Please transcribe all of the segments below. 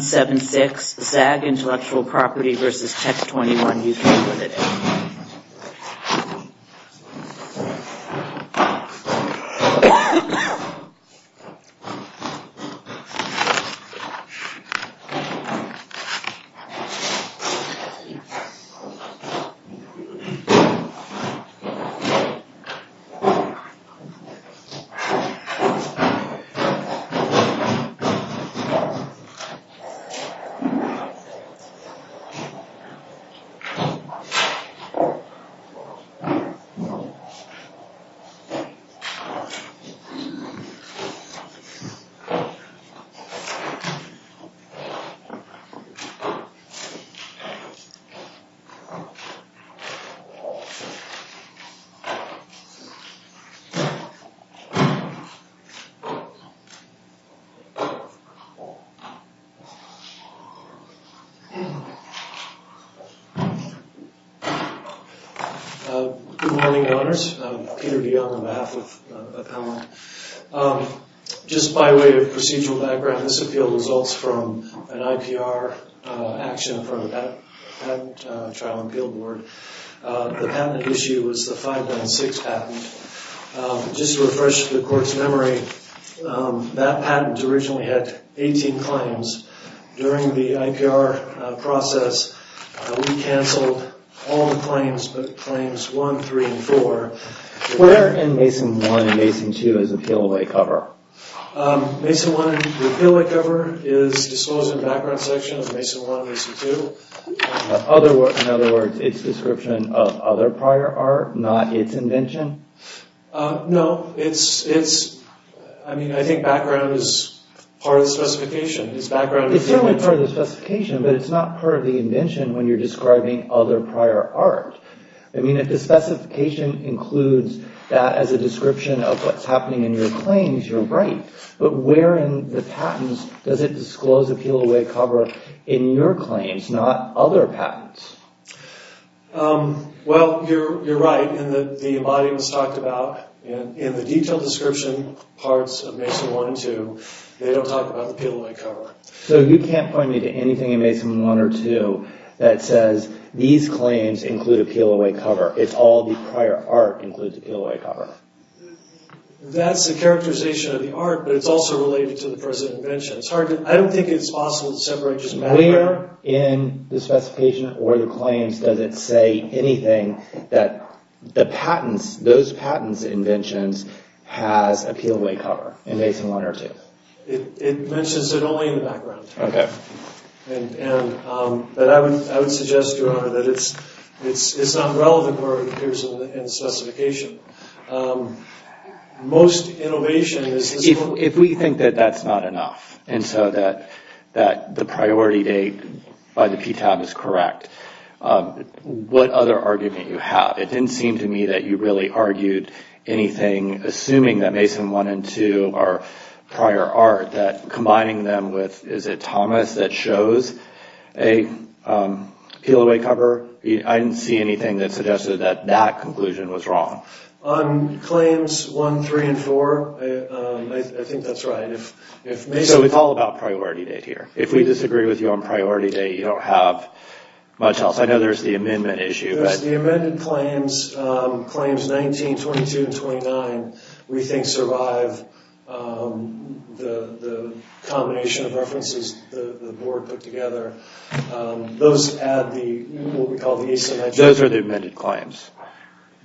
Zagg Intellectual Property v. Tech 21 UK Ltd. Zagg Intellectual Property v. Tech 21 UK Ltd. Good morning, Your Honours. Peter DeYoung on behalf of the panel. Just by way of procedural background, this appeal results from an IPR action from the Patent Trial and Appeal Board. The patent issue was the 516 patent. Just to refresh the Court's memory, that patent originally had 18 claims. During the IPR process, we cancelled all the claims, but claims 1, 3, and 4. Where in Mason 1 and Mason 2 is the peel-away cover? Mason 1, the peel-away cover is disclosed in the background section of Mason 1 and Mason 2. In other words, it's part of the specification. It's certainly part of the specification, but it's not part of the invention when you're describing other prior art. I mean, if the specification includes that as a description of what's happening in your claims, you're right. But where in the patents does it disclose the peel-away cover in your claims, not other patents? Well, you're right. In the detailed description parts of Mason 1 and 2, they don't talk about the peel-away cover. So you can't point me to anything in Mason 1 or 2 that says these claims include a peel-away cover. It's all the prior art includes a peel-away cover. That's the characterization of the art, but it's also related to the present invention. I don't think it's possible to separate just matter. Where in the specification or the claims does it say anything that the patents, those patents and inventions has a peel-away cover in Mason 1 or 2? It mentions it only in the background. Okay. And I would suggest, Your Honor, that it's not relevant where it appears in the specification. Most innovation is... If we think that that's not enough, and so that the priority date by the anything, assuming that Mason 1 and 2 are prior art, that combining them with, is it Thomas that shows a peel-away cover? I didn't see anything that suggested that that conclusion was wrong. On claims 1, 3, and 4, I think that's right. So it's all about priority date here. If we disagree with you on priority date, you don't have much else. I know there's the amendment issue. The amended claims, claims 19, 22, and 29, we think survive the combination of references the board put together. Those add the, what we call the... Those are the amended claims.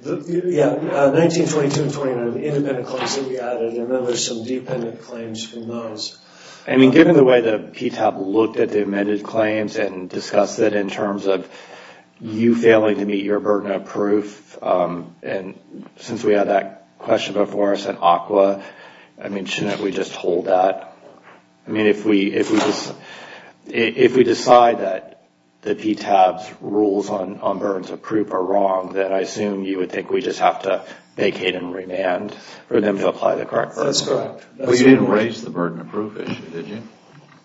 Yeah, 19, 22, and 29 are the independent claims that we added, and then there's some dependent claims from those. I mean, given the way that PTOP looked at the amended claims and discussed that in terms of you failing to meet your burden of proof, and since we had that question before us at ACWA, I mean, shouldn't we just hold that? I mean, if we decide that the PTAB's rules on burdens of proof are wrong, then I assume you would think we just have to vacate and remand for them to apply the correct version. That's correct. But you didn't raise the burden of proof issue, did you?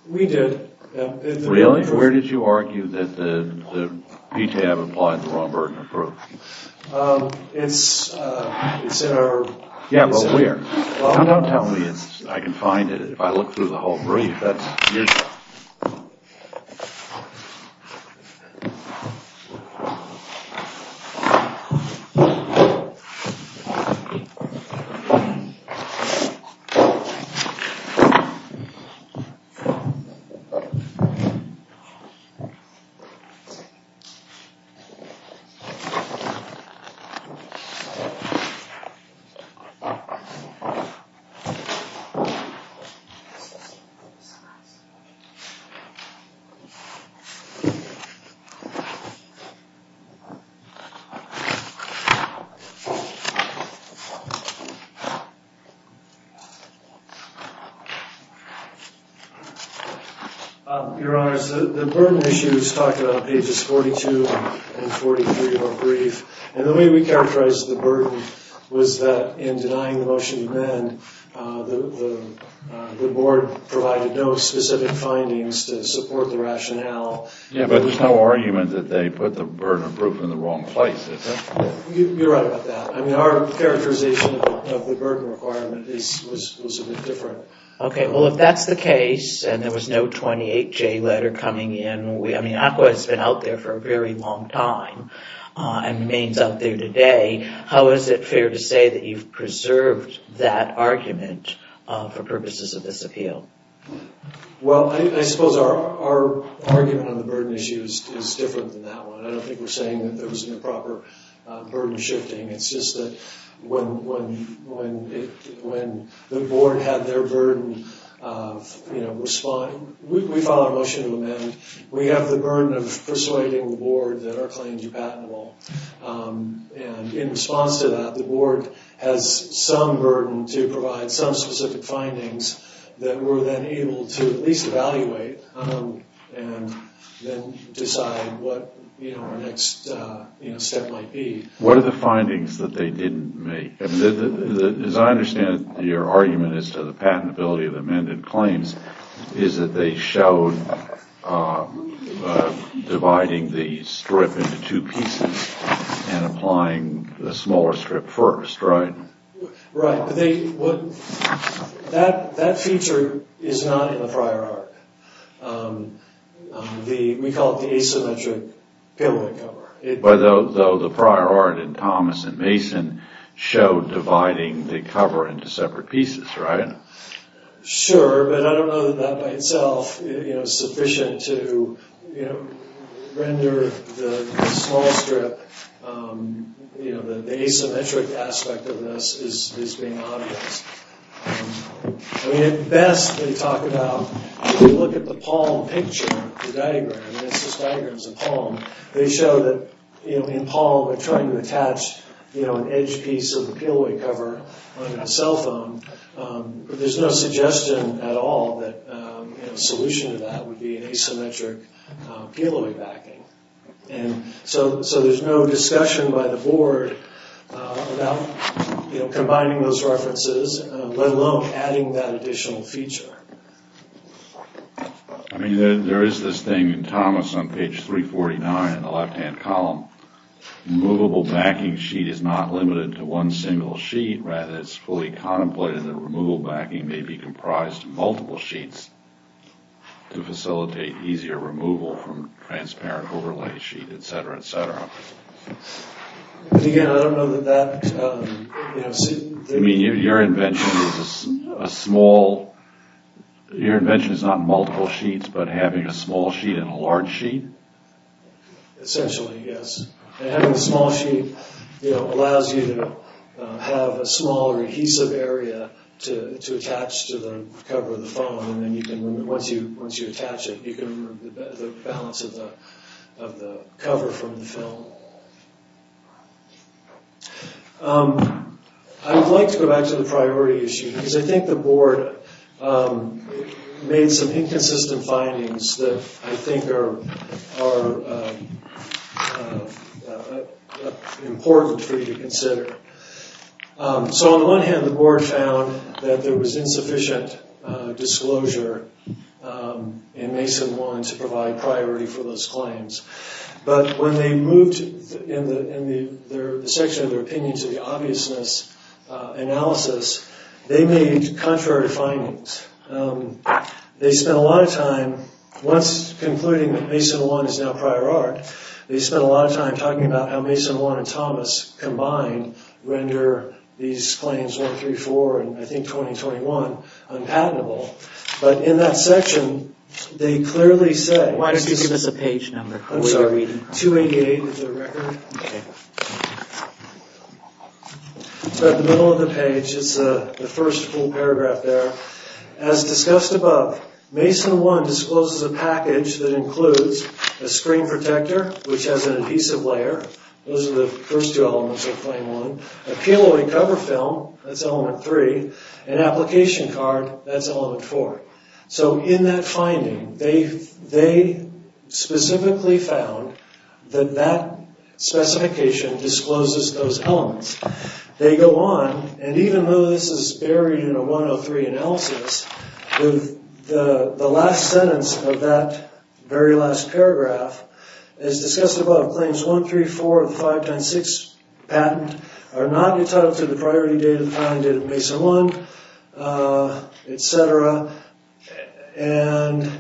We did. Really? Where did you argue that the PTAB applied the wrong burden of proof? It's in our... Yeah, but where? Don't tell me I can find it. If I look through the whole brief, that's... Oh, shit. It's in this box. Your Honor, the burden issue is talked about on pages 42 and 43 of our brief, and the way we characterized the burden was that in denying the motion to remand, the board provided no specific findings to support the rationale. Yeah, but there's no argument that they put the burden of proof in the wrong place, is there? You're right about that. I mean, our characterization of the burden requirement was a bit different. Okay, well, if that's the case, and there was no 28J letter coming in... I mean, ACWA has been out there for a very long time and remains out there today. How is it fair to say that you've preserved that argument for purposes of this appeal? Well, I suppose our argument on the burden issue is different than that one. I don't think we're saying that there wasn't a proper burden shifting. It's just that when the board had their burden of responding... We filed a motion to amend. We have the burden of persuading the board that our claims are patentable. And in response to that, the board has some burden to provide some specific findings that we're then able to at least evaluate and then decide what our next step might be. What are the findings that they didn't make? As I understand it, your argument as to the patentability of the amended claims is that they showed dividing the strip into two pieces and applying the smaller strip first, right? Right. That feature is not in the prior art. We call it the asymmetric payload cover. Though the prior art in Thomas and Mason showed dividing the cover into separate pieces, right? Sure, but I don't know that that by itself is sufficient to render the small strip... The asymmetric aspect of this is being obvious. At best, they talk about... If you look at the palm picture, the diagram... This diagram is a palm. They show that in palm, they're trying to attach an edge piece of the peel-away cover under the cell phone. But there's no suggestion at all that a solution to that would be an asymmetric peel-away backing. And so there's no discussion by the board about combining those references, let alone adding that additional feature. I mean, there is this thing in Thomas on page 349 in the left-hand column. Removable backing sheet is not limited to one single sheet. Rather, it's fully contemplated that removal backing may be comprised of multiple sheets to facilitate easier removal from transparent overlay sheet, et cetera, et cetera. But again, I don't know that that... You mean your invention is a small... Your invention is not multiple sheets, but having a small sheet and a large sheet? Essentially, yes. And having a small sheet allows you to have a smaller adhesive area to attach to the cover of the phone. And then once you attach it, you can remove the balance of the cover from the film. I would like to go back to the priority issue, because I think the board made some inconsistent findings that I think are important for you to consider. So on the one hand, the board found that there was insufficient disclosure, and Mason wanted to provide priority for those claims. But when they moved in the section of their opinion to the obviousness analysis, they made contrary findings. They spent a lot of time, once concluding that Mason 1 is now prior art, they spent a lot of time talking about how Mason 1 and Thomas combined render these claims 134 and I think 2021 unpatentable. But in that section, they clearly say... I'm sorry, 288 is their record. It's about the middle of the page. It's the first full paragraph there. As discussed above, Mason 1 discloses a package that includes a screen protector, which has an adhesive layer. Those are the first two elements of claim 1. A peel-away cover film, that's element 3. An application card, that's element 4. So in that finding, they specifically found that that specification discloses those elements. They go on, and even though this is buried in a 103 analysis, the last sentence of that very last paragraph is discussed above. Claims 134 of the 596 patent are not entitled to the priority data that you find in Mason 1, etc., and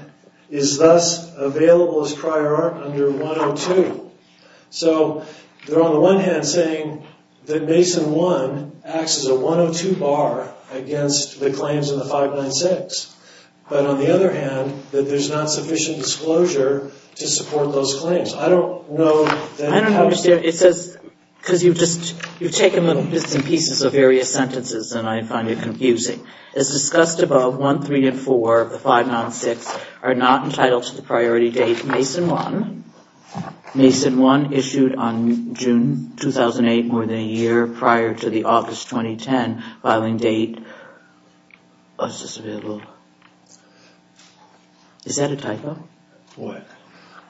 is thus available as prior art under 102. So they're on the one hand saying that Mason 1 acts as a 102 bar against the claims in the 596, but on the other hand, that there's not sufficient disclosure to support those claims. I don't understand. It says, because you've just taken bits and pieces of various sentences, and I find it confusing. As discussed above, 134 of the 596 are not entitled to the priority date Mason 1. Mason 1 issued on June 2008, more than a year prior to the August 2010 filing date. Is that a typo? What?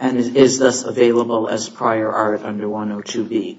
And is thus available as prior art under 102B.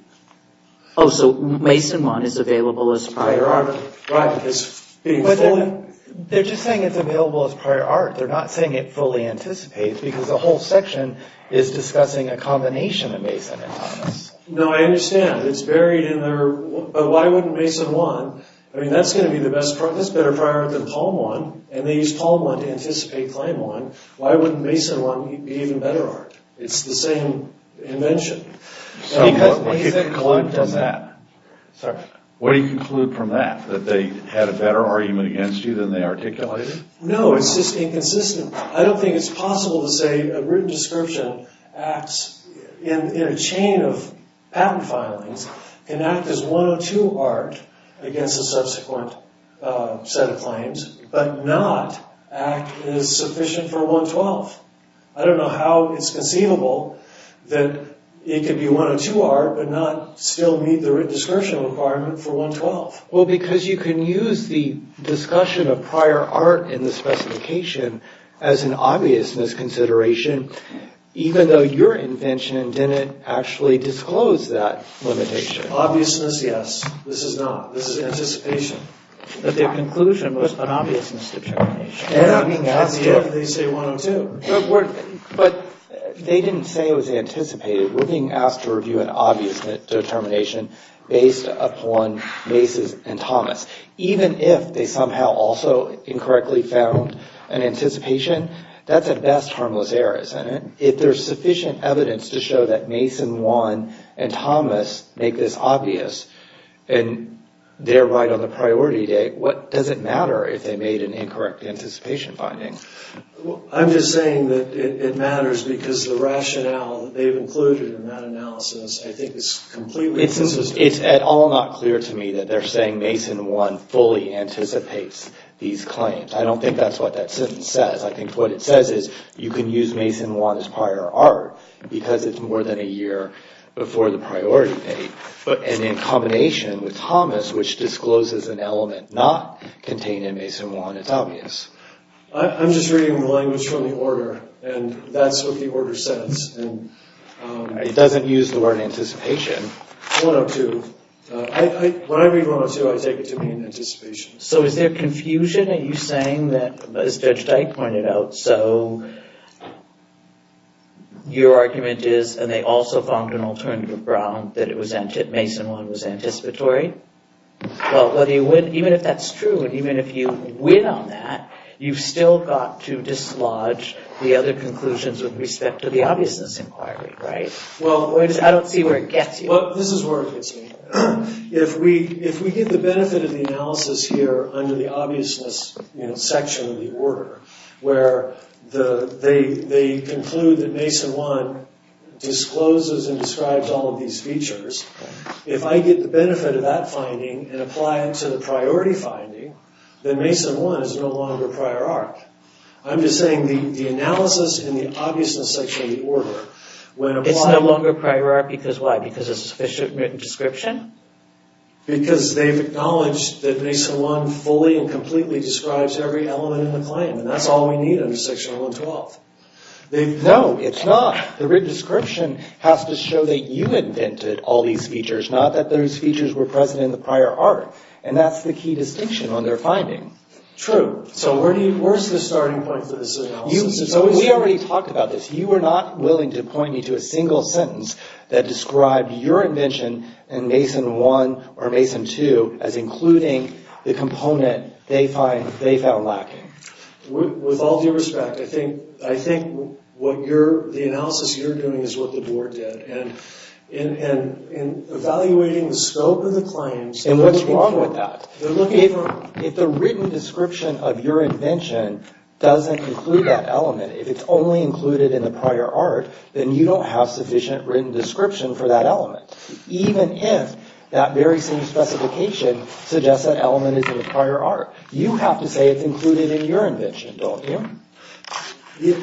Oh, so Mason 1 is available as prior art. Prior art, right. They're just saying it's available as prior art. They're not saying it fully anticipates, because the whole section is discussing a combination of Mason and Thomas. No, I understand. It's buried in there. But why wouldn't Mason 1? I mean, that's going to be the best, that's better prior art than Palm 1, and they used Palm 1 to anticipate Claim 1. Why wouldn't Mason 1 be even better art? It's the same invention. What do you conclude from that? That they had a better argument against you than they articulated? No, it's just inconsistent. I don't think it's possible to say a written description acts, in a chain of patent filings, can act as 102 art against a subsequent set of claims, but not act as sufficient for 112. I don't know how it's conceivable that it could be 102 art, but not still meet the written description requirement for 112. Well, because you can use the discussion of prior art in the specification as an obvious misconsideration, even though your invention didn't actually disclose that limitation. Obviousness, yes. This is not. This is anticipation. That their conclusion was an obviousness determination. They're not being asked if they say 102. But they didn't say it was anticipated. We're being asked to review an obviousness determination based upon Mason and Thomas. Even if they somehow also incorrectly found an anticipation, that's at best harmless errors. If there's sufficient evidence to show that Mason 1 and Thomas make this obvious, and they're right on the priority date, what does it matter if they made an incorrect anticipation finding? I'm just saying that it matters because the rationale that they've included in that analysis, I think, is completely inconsistent. It's at all not clear to me that they're saying Mason 1 fully anticipates these claims. I don't think that's what that sentence says. I think what it says is you can use Mason 1 as prior art because it's more than a year before the priority date. And in combination with Thomas, which discloses an element not contained in Mason 1, it's obvious. I'm just reading the language from the order, and that's what the order says. It doesn't use the word anticipation. 102. When I read 102, I take it to mean anticipation. So is there confusion? Are you saying that, as Judge Dyke pointed out, so your argument is, and they also found an alternative ground, that Mason 1 was anticipatory? Well, even if that's true, even if you win on that, you've still got to dislodge the other conclusions with respect to the obviousness inquiry, right? I don't see where it gets you. Well, this is where it gets me. If we get the benefit of the analysis here under the obviousness section of the order, where they conclude that Mason 1 discloses and describes all of these features, if I get the benefit of that finding and apply it to the priority finding, then Mason 1 is no longer prior art. I'm just saying the analysis in the obviousness section of the order, when a... It's no longer prior art because why? Because it's a sufficient written description? Because they've acknowledged that Mason 1 fully and completely describes every element in the claim, and that's all we need under Section 112. No, it's not. The written description has to show that you invented all these features, not that those features were present in the prior art. And that's the key distinction on their finding. True. So where's the starting point for this analysis? We already talked about this. You were not willing to point me to a single sentence that described your invention and Mason 1 or Mason 2 as including the component they found lacking. With all due respect, I think the analysis you're doing is what the board did. And evaluating the scope of the claims... And what's wrong with that? If the written description of your invention doesn't include that element, if it's only included in the prior art, then you don't have sufficient written description for that element. Even if that very same specification suggests that element is in the prior art. You have to say it's included in your invention, don't you?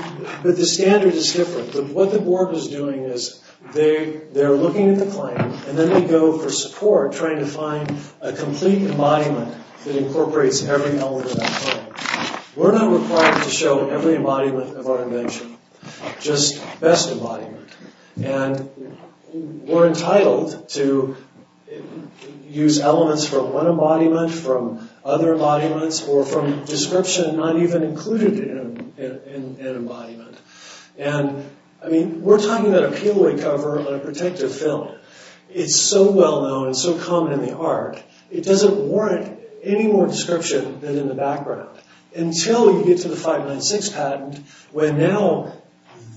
But the standard is different. What the board is doing is they're looking at the claim, and then they go for support trying to find a complete embodiment that incorporates every element of that claim. We're not required to show every embodiment of our invention, just best embodiment. We're entitled to use elements from one embodiment, from other embodiments, or from description not even included in an embodiment. We're talking about a peel-away cover on a protective film. It's so well-known, it's so common in the art, it doesn't warrant any more description than in the background. Until you get to the 596 patent, where now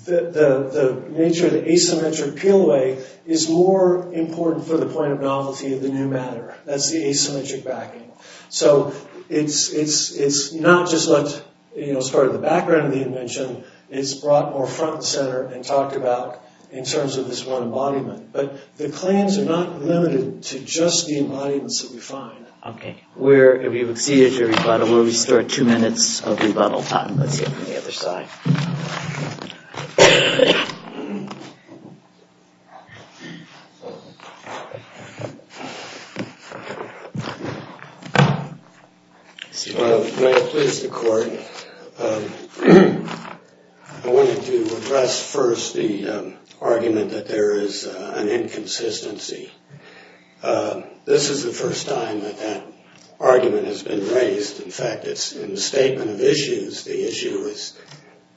the nature of the asymmetric peel-away is more important for the point of novelty of the new matter. That's the asymmetric backing. So it's not just what's part of the background of the invention, it's brought more front and center and talked about in terms of this one embodiment. But the claims are not limited to just the embodiments that we find. We've exceeded your rebuttal. We'll restore two minutes of rebuttal time. Let's hear from the other side. May it please the court. I wanted to address first the argument that there is an inconsistency. This is the first time that that argument has been raised. In fact, it's in the Statement of Issues, the issue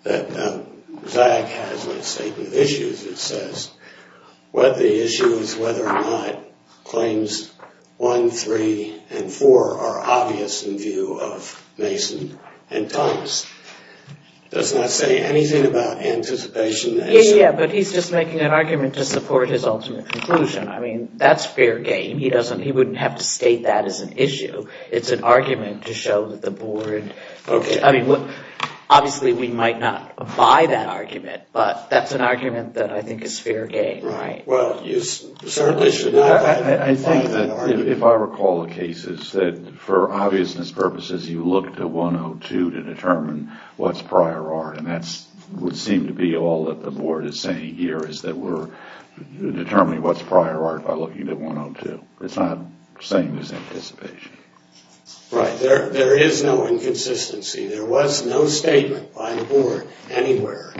that Zagg has in the Statement of Issues, it says whether the issue is whether or not claims 1, 3, and 4 are obvious in view of Mason and Thomas. Does that say anything about anticipation? Yeah, but he's just making an argument to support his ultimate conclusion. I mean, that's fair game. He wouldn't have to state that as an issue. It's an argument to show that the board... Obviously, we might not buy that argument, but that's an argument that I think is fair game, right? Well, you certainly should not buy that argument. I think that if I recall the cases, that for obviousness purposes, you look to 102 to determine what's prior art, and that would seem to be all that the board is saying here, is that we're determining what's prior art by looking at 102. It's not saying it's anticipation. Right. There is no inconsistency. There was no statement by the board anywhere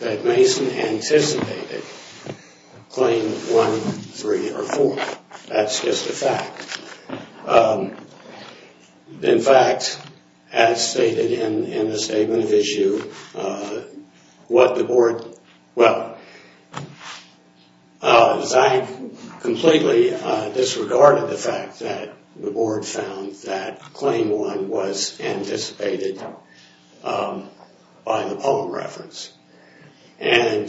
that Mason anticipated claim 1, 3, or 4. That's just a fact. In fact, as stated in the Statement of Issue, what the board... Well, Zank completely disregarded the fact that the board found that claim 1 was anticipated by the poem reference. And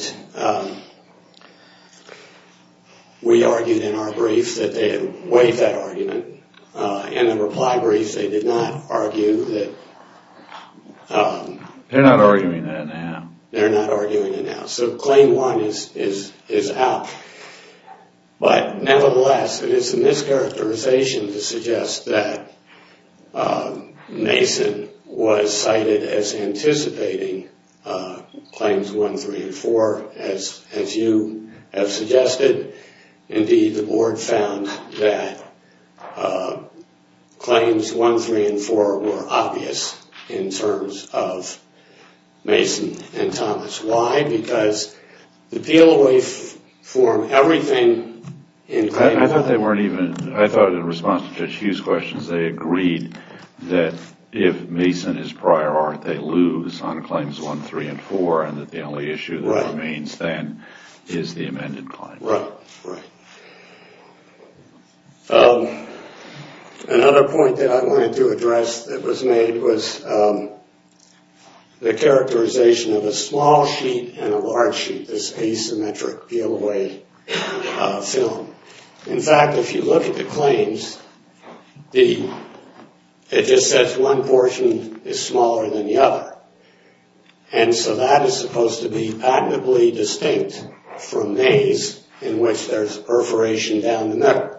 we argued in our brief that they had waived that argument. In the reply brief, they did not argue that... They're not arguing that now. They're not arguing it now. So claim 1 is out. But nevertheless, it is a mischaracterization to suggest that Mason was cited as anticipating claims 1, 3, and 4, as you have suggested. Indeed, the board found that claims 1, 3, and 4 were obvious in terms of Mason and Thomas. Why? Because the PLOA form everything in claim 1. I thought they weren't even... I thought in response to Judge Hughes' questions, they agreed that if Mason is prior art, they lose on claims 1, 3, and 4, and that the only issue that remains then is the amended claim. Right. Right. Another point that I wanted to address that was made was the characterization of a small sheet and a large sheet, this asymmetric PLOA film. In fact, if you look at the claims, it just says one portion is smaller than the other. And so that is supposed to be patentably distinct from these in which there's perforation down the middle.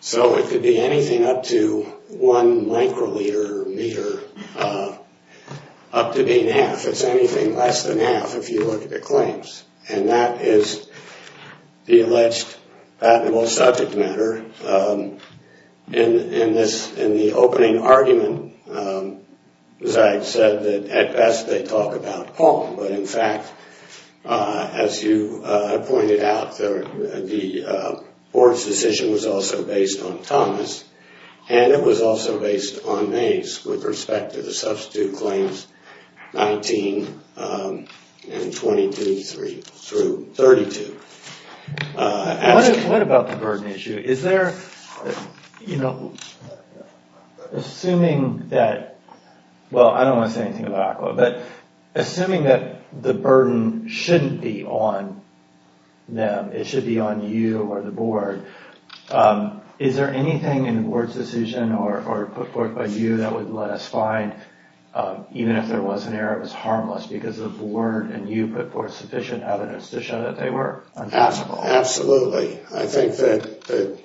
So it could be anything up to one microliter, meter, up to being half. It's anything less than half if you look at the claims. And that is the alleged patentable subject matter. In the opening argument, Zag said that at best they talk about Paul, but in fact, as you pointed out, the board's decision was also based on Thomas, and it was also based on Mays with respect to the substitute claims 19 and 22 through 32. What about the burden issue? Is there... You know, assuming that... Well, I don't want to say anything about ACWA, but assuming that the burden shouldn't be on them, it should be on you or the board, is there anything in the board's decision or put forth by you that would let us find, even if there was an error, it was harmless because the board and you put forth sufficient evidence to show that they were untouchable? Absolutely. I think that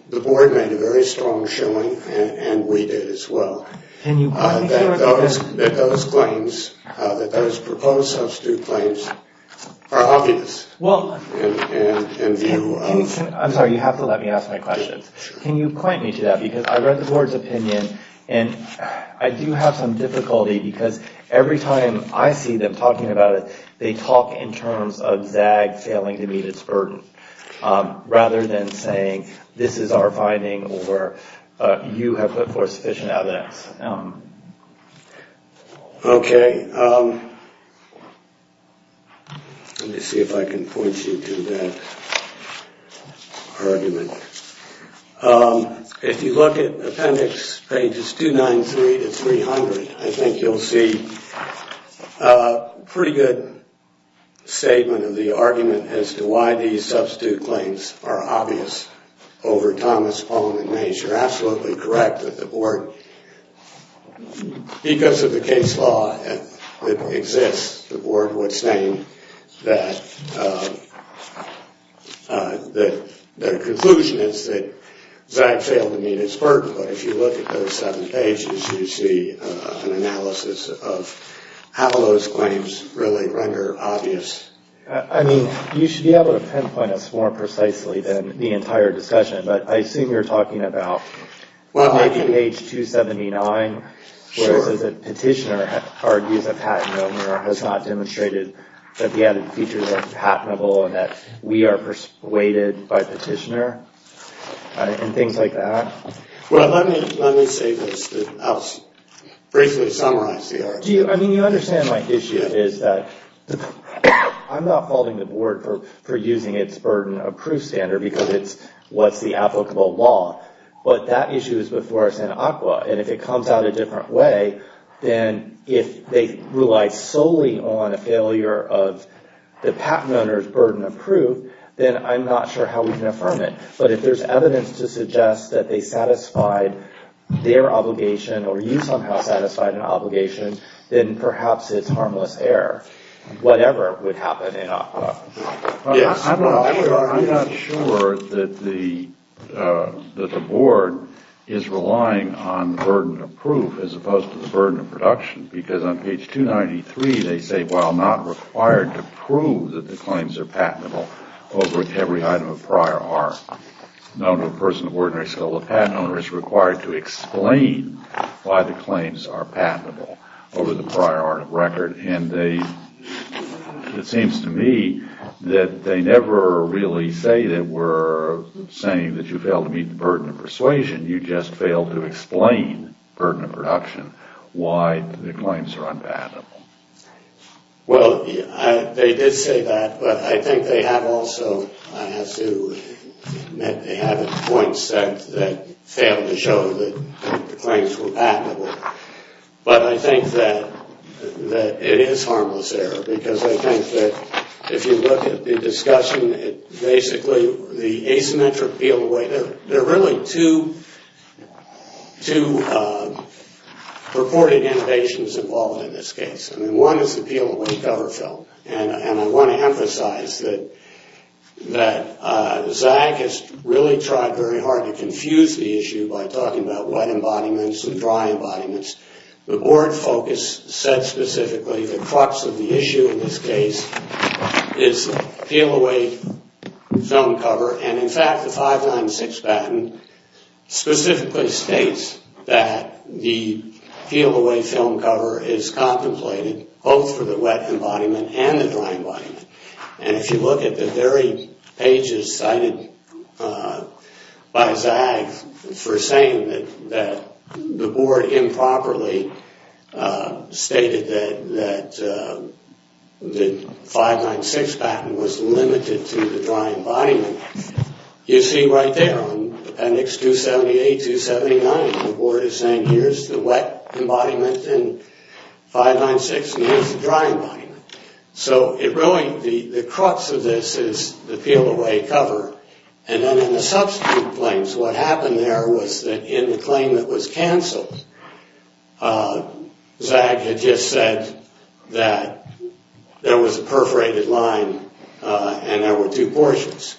the board made a very strong showing, and we did as well. That those claims, that those proposed substitute claims are obvious in view of... I'm sorry, you have to let me ask my questions. Can you point me to that? Because I read the board's opinion, and I do have some difficulty because every time I see them talking about it, they talk in terms of Zag failing to meet its burden rather than saying, this is our finding or you have put forth sufficient evidence. Okay. Let me see if I can point you to that argument. If you look at appendix pages 293 to 300, I think you'll see a pretty good statement of the argument as to why these substitute claims are obvious over Thomas, Paul, and Mays. You're absolutely correct that the board, because of the case law that exists, the board would say that the conclusion is that Zag failed to meet its burden. But if you look at those seven pages, you see an analysis of how those claims really render obvious. I mean, you should be able to pinpoint us more precisely than the entire discussion, but I assume you're talking about maybe page 279, where it says that Petitioner argues a patent owner has not demonstrated that the added features are patentable and that we are persuaded by Petitioner, and things like that. Well, let me say this. I'll briefly summarize the argument. I mean, you understand my issue, is that I'm not faulting the board for using its burden-approved standard because it's what's the applicable law. But that issue is before us in ACWA, and if it comes out a different way, then if they rely solely on a failure of the patent owner's burden-approved, then I'm not sure how we can affirm it. But if there's evidence to suggest that they satisfied their obligation, or you somehow satisfied an obligation, then perhaps it's harmless error. Whatever would happen in ACWA. Yes. I'm not sure that the board is relying on burden-approved as opposed to the burden of production because on page 293, they say, well, I'm not required to prove that the claims are patentable over every item of prior art. No person of ordinary skill, a patent owner, is required to explain why the claims are patentable over the prior art of record, and it seems to me that they never really say that we're saying that you failed to meet the burden of persuasion. You just failed to explain the burden of production, why the claims are unpatentable. Well, they did say that, but I think they have also, I have to admit, that they have points that fail to show that the claims were patentable. But I think that it is harmless error because I think that if you look at the discussion, basically the asymmetric PLOA, there are really two purported innovations involved in this case. One is the PLOA cover film, and I want to emphasize that Zag has really tried very hard to confuse the issue by talking about wet embodiments and dry embodiments. The board focus said specifically the crux of the issue in this case is PLOA film cover, and in fact, the 596 patent specifically states that the PLOA film cover is contemplated both for the wet embodiment and the dry embodiment. And if you look at the very pages cited by Zag for saying that the board improperly stated that the 596 patent was limited to the dry embodiment, you see right there on appendix 278, 279, the board is saying here's the wet embodiment in 596 and here's the dry embodiment. So really the crux of this is the PLOA cover. And then in the substitute claims, what happened there was that in the claim that was canceled, Zag had just said that there was a perforated line and there were two portions.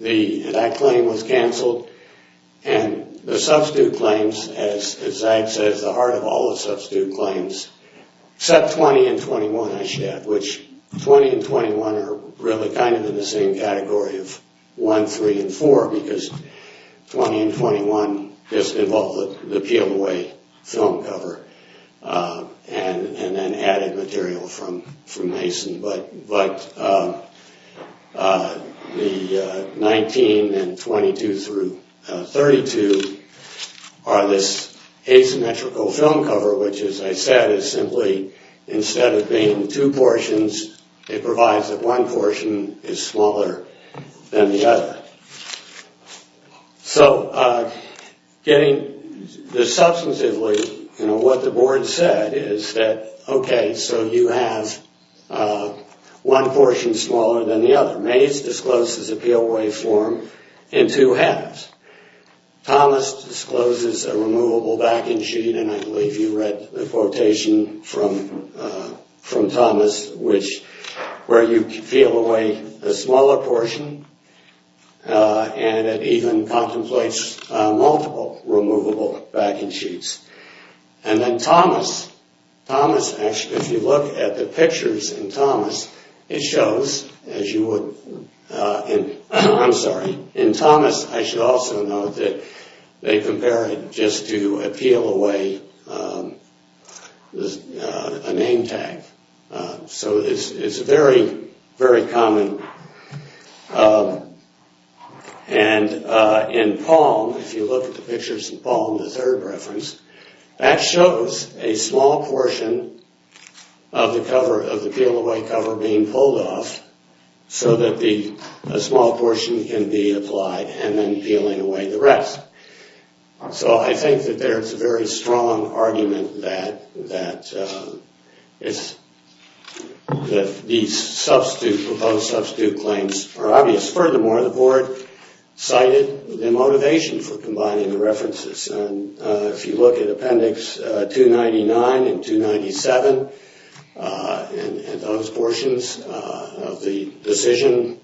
That claim was canceled, and the substitute claims, as Zag says, the heart of all the substitute claims, except 20 and 21 I should add, which 20 and 21 are really kind of in the same category of one, three, and four, because 20 and 21 just involved the PLOA film cover and then added material from Mason. But the 19 and 22 through 32 are this asymmetrical film cover, which as I said is simply instead of being two portions, it provides that one portion is smaller than the other. So getting this substantively, what the board said is that, okay, so you have one portion smaller than the other. Mays discloses a PLOA form in two halves. Thomas discloses a removable backing sheet, and I believe you read the quotation from Thomas, where you peel away the smaller portion and it even contemplates multiple removable backing sheets. And then Thomas, if you look at the pictures in Thomas, it shows, as you would, I'm sorry, in Thomas I should also note that they compare it just to a PLOA name tag. So it's very, very common. And in Palm, if you look at the pictures in Palm, the third reference, that shows a small portion of the PLOA cover being pulled off so that a small portion can be applied and then peeling away the rest. So I think that there's a very strong argument that these proposed substitute claims are obvious. Furthermore, the board cited the motivation for combining the references. And if you look at appendix 299 and 297 and those portions of the decision,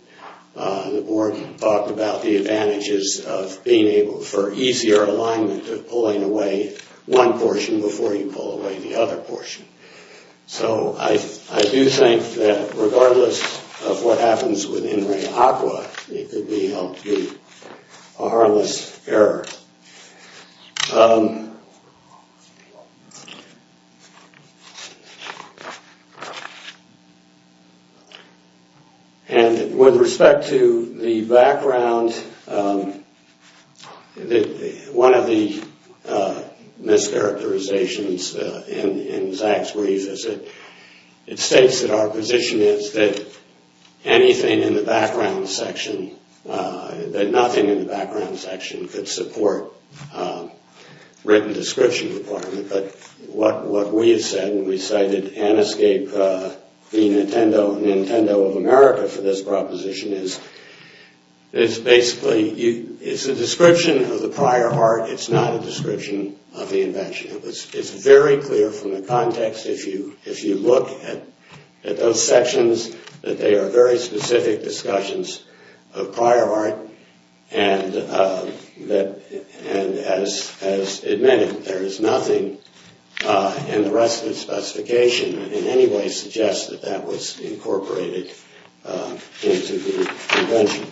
the board talked about the advantages of being able for easier alignment of pulling away one portion before you pull away the other portion. So I do think that regardless of what happens with in re aqua, it could be a harmless error. And with respect to the background, one of the mischaracterizations in Zach's brief is that it states that our position is that anything in the background section, that nothing in the background section could support written description requirement. But what we have said, and we cited Aniscape, the Nintendo of America for this proposition, is basically it's a description of the prior art, it's not a description of the invention. It's very clear from the context if you look at those sections that they are very specific discussions of prior art, and as admitted, there is nothing in the rest of the specification that in any way suggests that that was incorporated into the invention.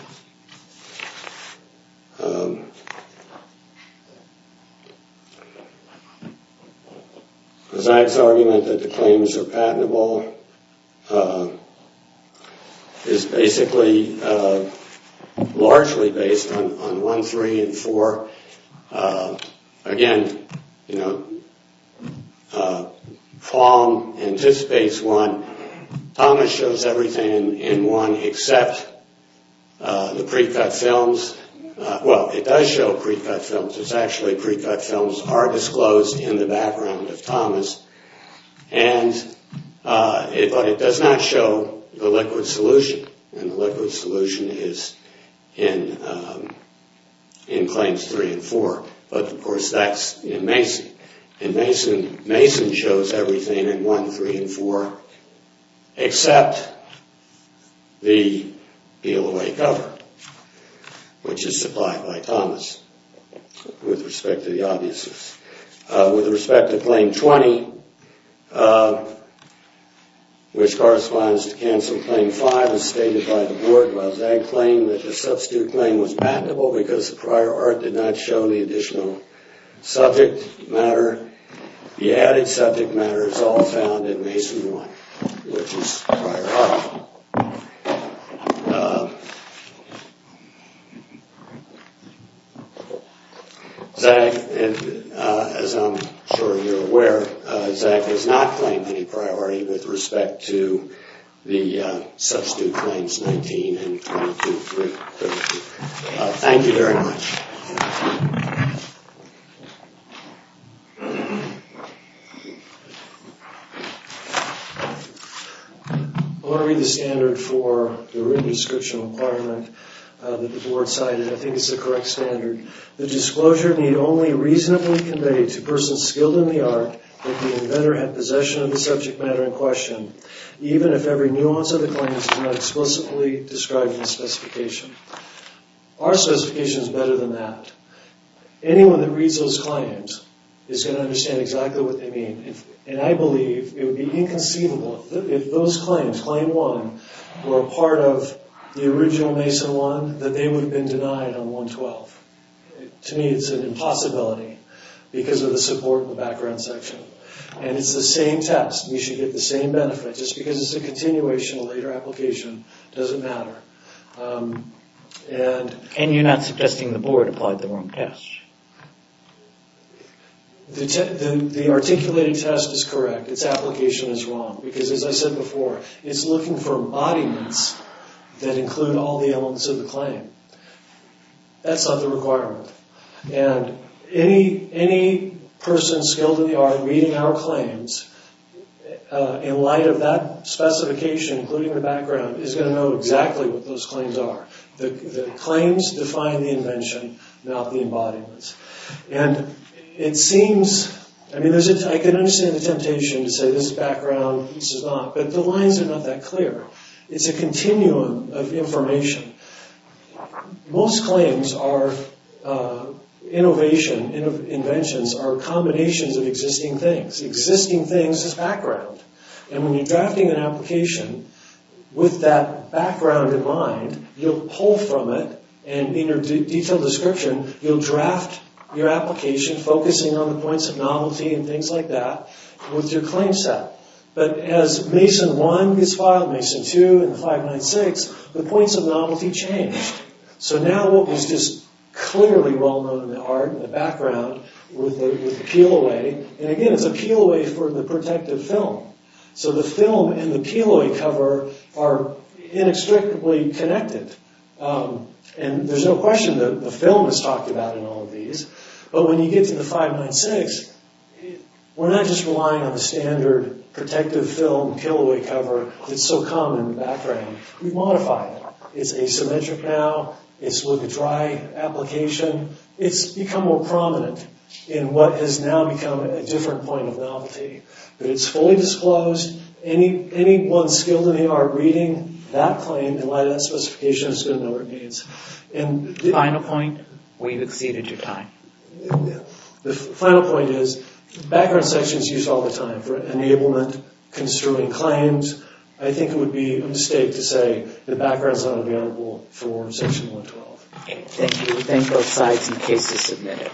Zach's argument that the claims are patentable is basically largely based on 1.3 and 4. Again, Palm anticipates 1. Thomas shows everything in 1 except the pre-cut films. Well, it does show pre-cut films. It's actually pre-cut films are disclosed in the background of Thomas, but it does not show the liquid solution. The liquid solution is in claims 3 and 4, but of course that's in Mason. Mason shows everything in 1, 3, and 4 except the peel-away cover, which is supplied by Thomas with respect to the obviousness. With respect to claim 20, which corresponds to cancel claim 5, as stated by the board, while Zach claimed that the substitute claim was patentable because the prior art did not show the additional subject matter, the added subject matter is all found in Mason 1, which is prior art. Zach, as I'm sure you're aware, Zach has not claimed any priority with respect to the substitute claims 19 and 22. Thank you very much. I want to read the standard for the written description of employment that the board cited. I think it's the correct standard. The disclosure need only reasonably convey to persons skilled in the art that the inventor had possession of the subject matter in question, even if every nuance of the claims is not explicitly described in the specification. Our specification is better than that. Anyone that reads those claims is going to understand exactly what they mean. I believe it would be inconceivable if those claims, claim 1, were a part of the original Mason 1, that they would have been denied on 112. To me, it's an impossibility because of the support in the background section. It's the same test. You should get the same benefit. Just because it's a continuation of a later application doesn't matter. And you're not suggesting the board applied the wrong test? The articulated test is correct. Its application is wrong because, as I said before, it's looking for embodiments that include all the elements of the claim. That's not the requirement. Any person skilled in the art reading our claims, in light of that specification, including the background, is going to know exactly what those claims are. The claims define the invention, not the embodiments. I can understand the temptation to say this is background, this is not, but the lines are not that clear. It's a continuum of information. Most claims are innovation, inventions are combinations of existing things. Existing things is background. And when you're drafting an application with that background in mind, you'll pull from it, and in your detailed description, you'll draft your application focusing on the points of novelty and things like that with your claim set. But as Mason 1 is filed, Mason 2, and the 596, the points of novelty change. So now what was just clearly well-known in the art, in the background, with the peel-away, and again, it's a peel-away for the protective film. So the film and the peel-away cover are inextricably connected. And there's no question that the film is talked about in all of these, but when you get to the 596, we're not just relying on the standard protective film peel-away cover that's so common in the background. We've modified it. It's asymmetric now. It's with a dry application. It's become more prominent in what has now become a different point of novelty. But it's fully disclosed. Any one skilled in the art reading that claim in light of that specification is going to know what it means. The final point, we've exceeded your time. The final point is, background sections are used all the time for enablement, construing claims. I think it would be a mistake to say that background's not available for Section 112. Thank you. We thank both sides and the case is submitted.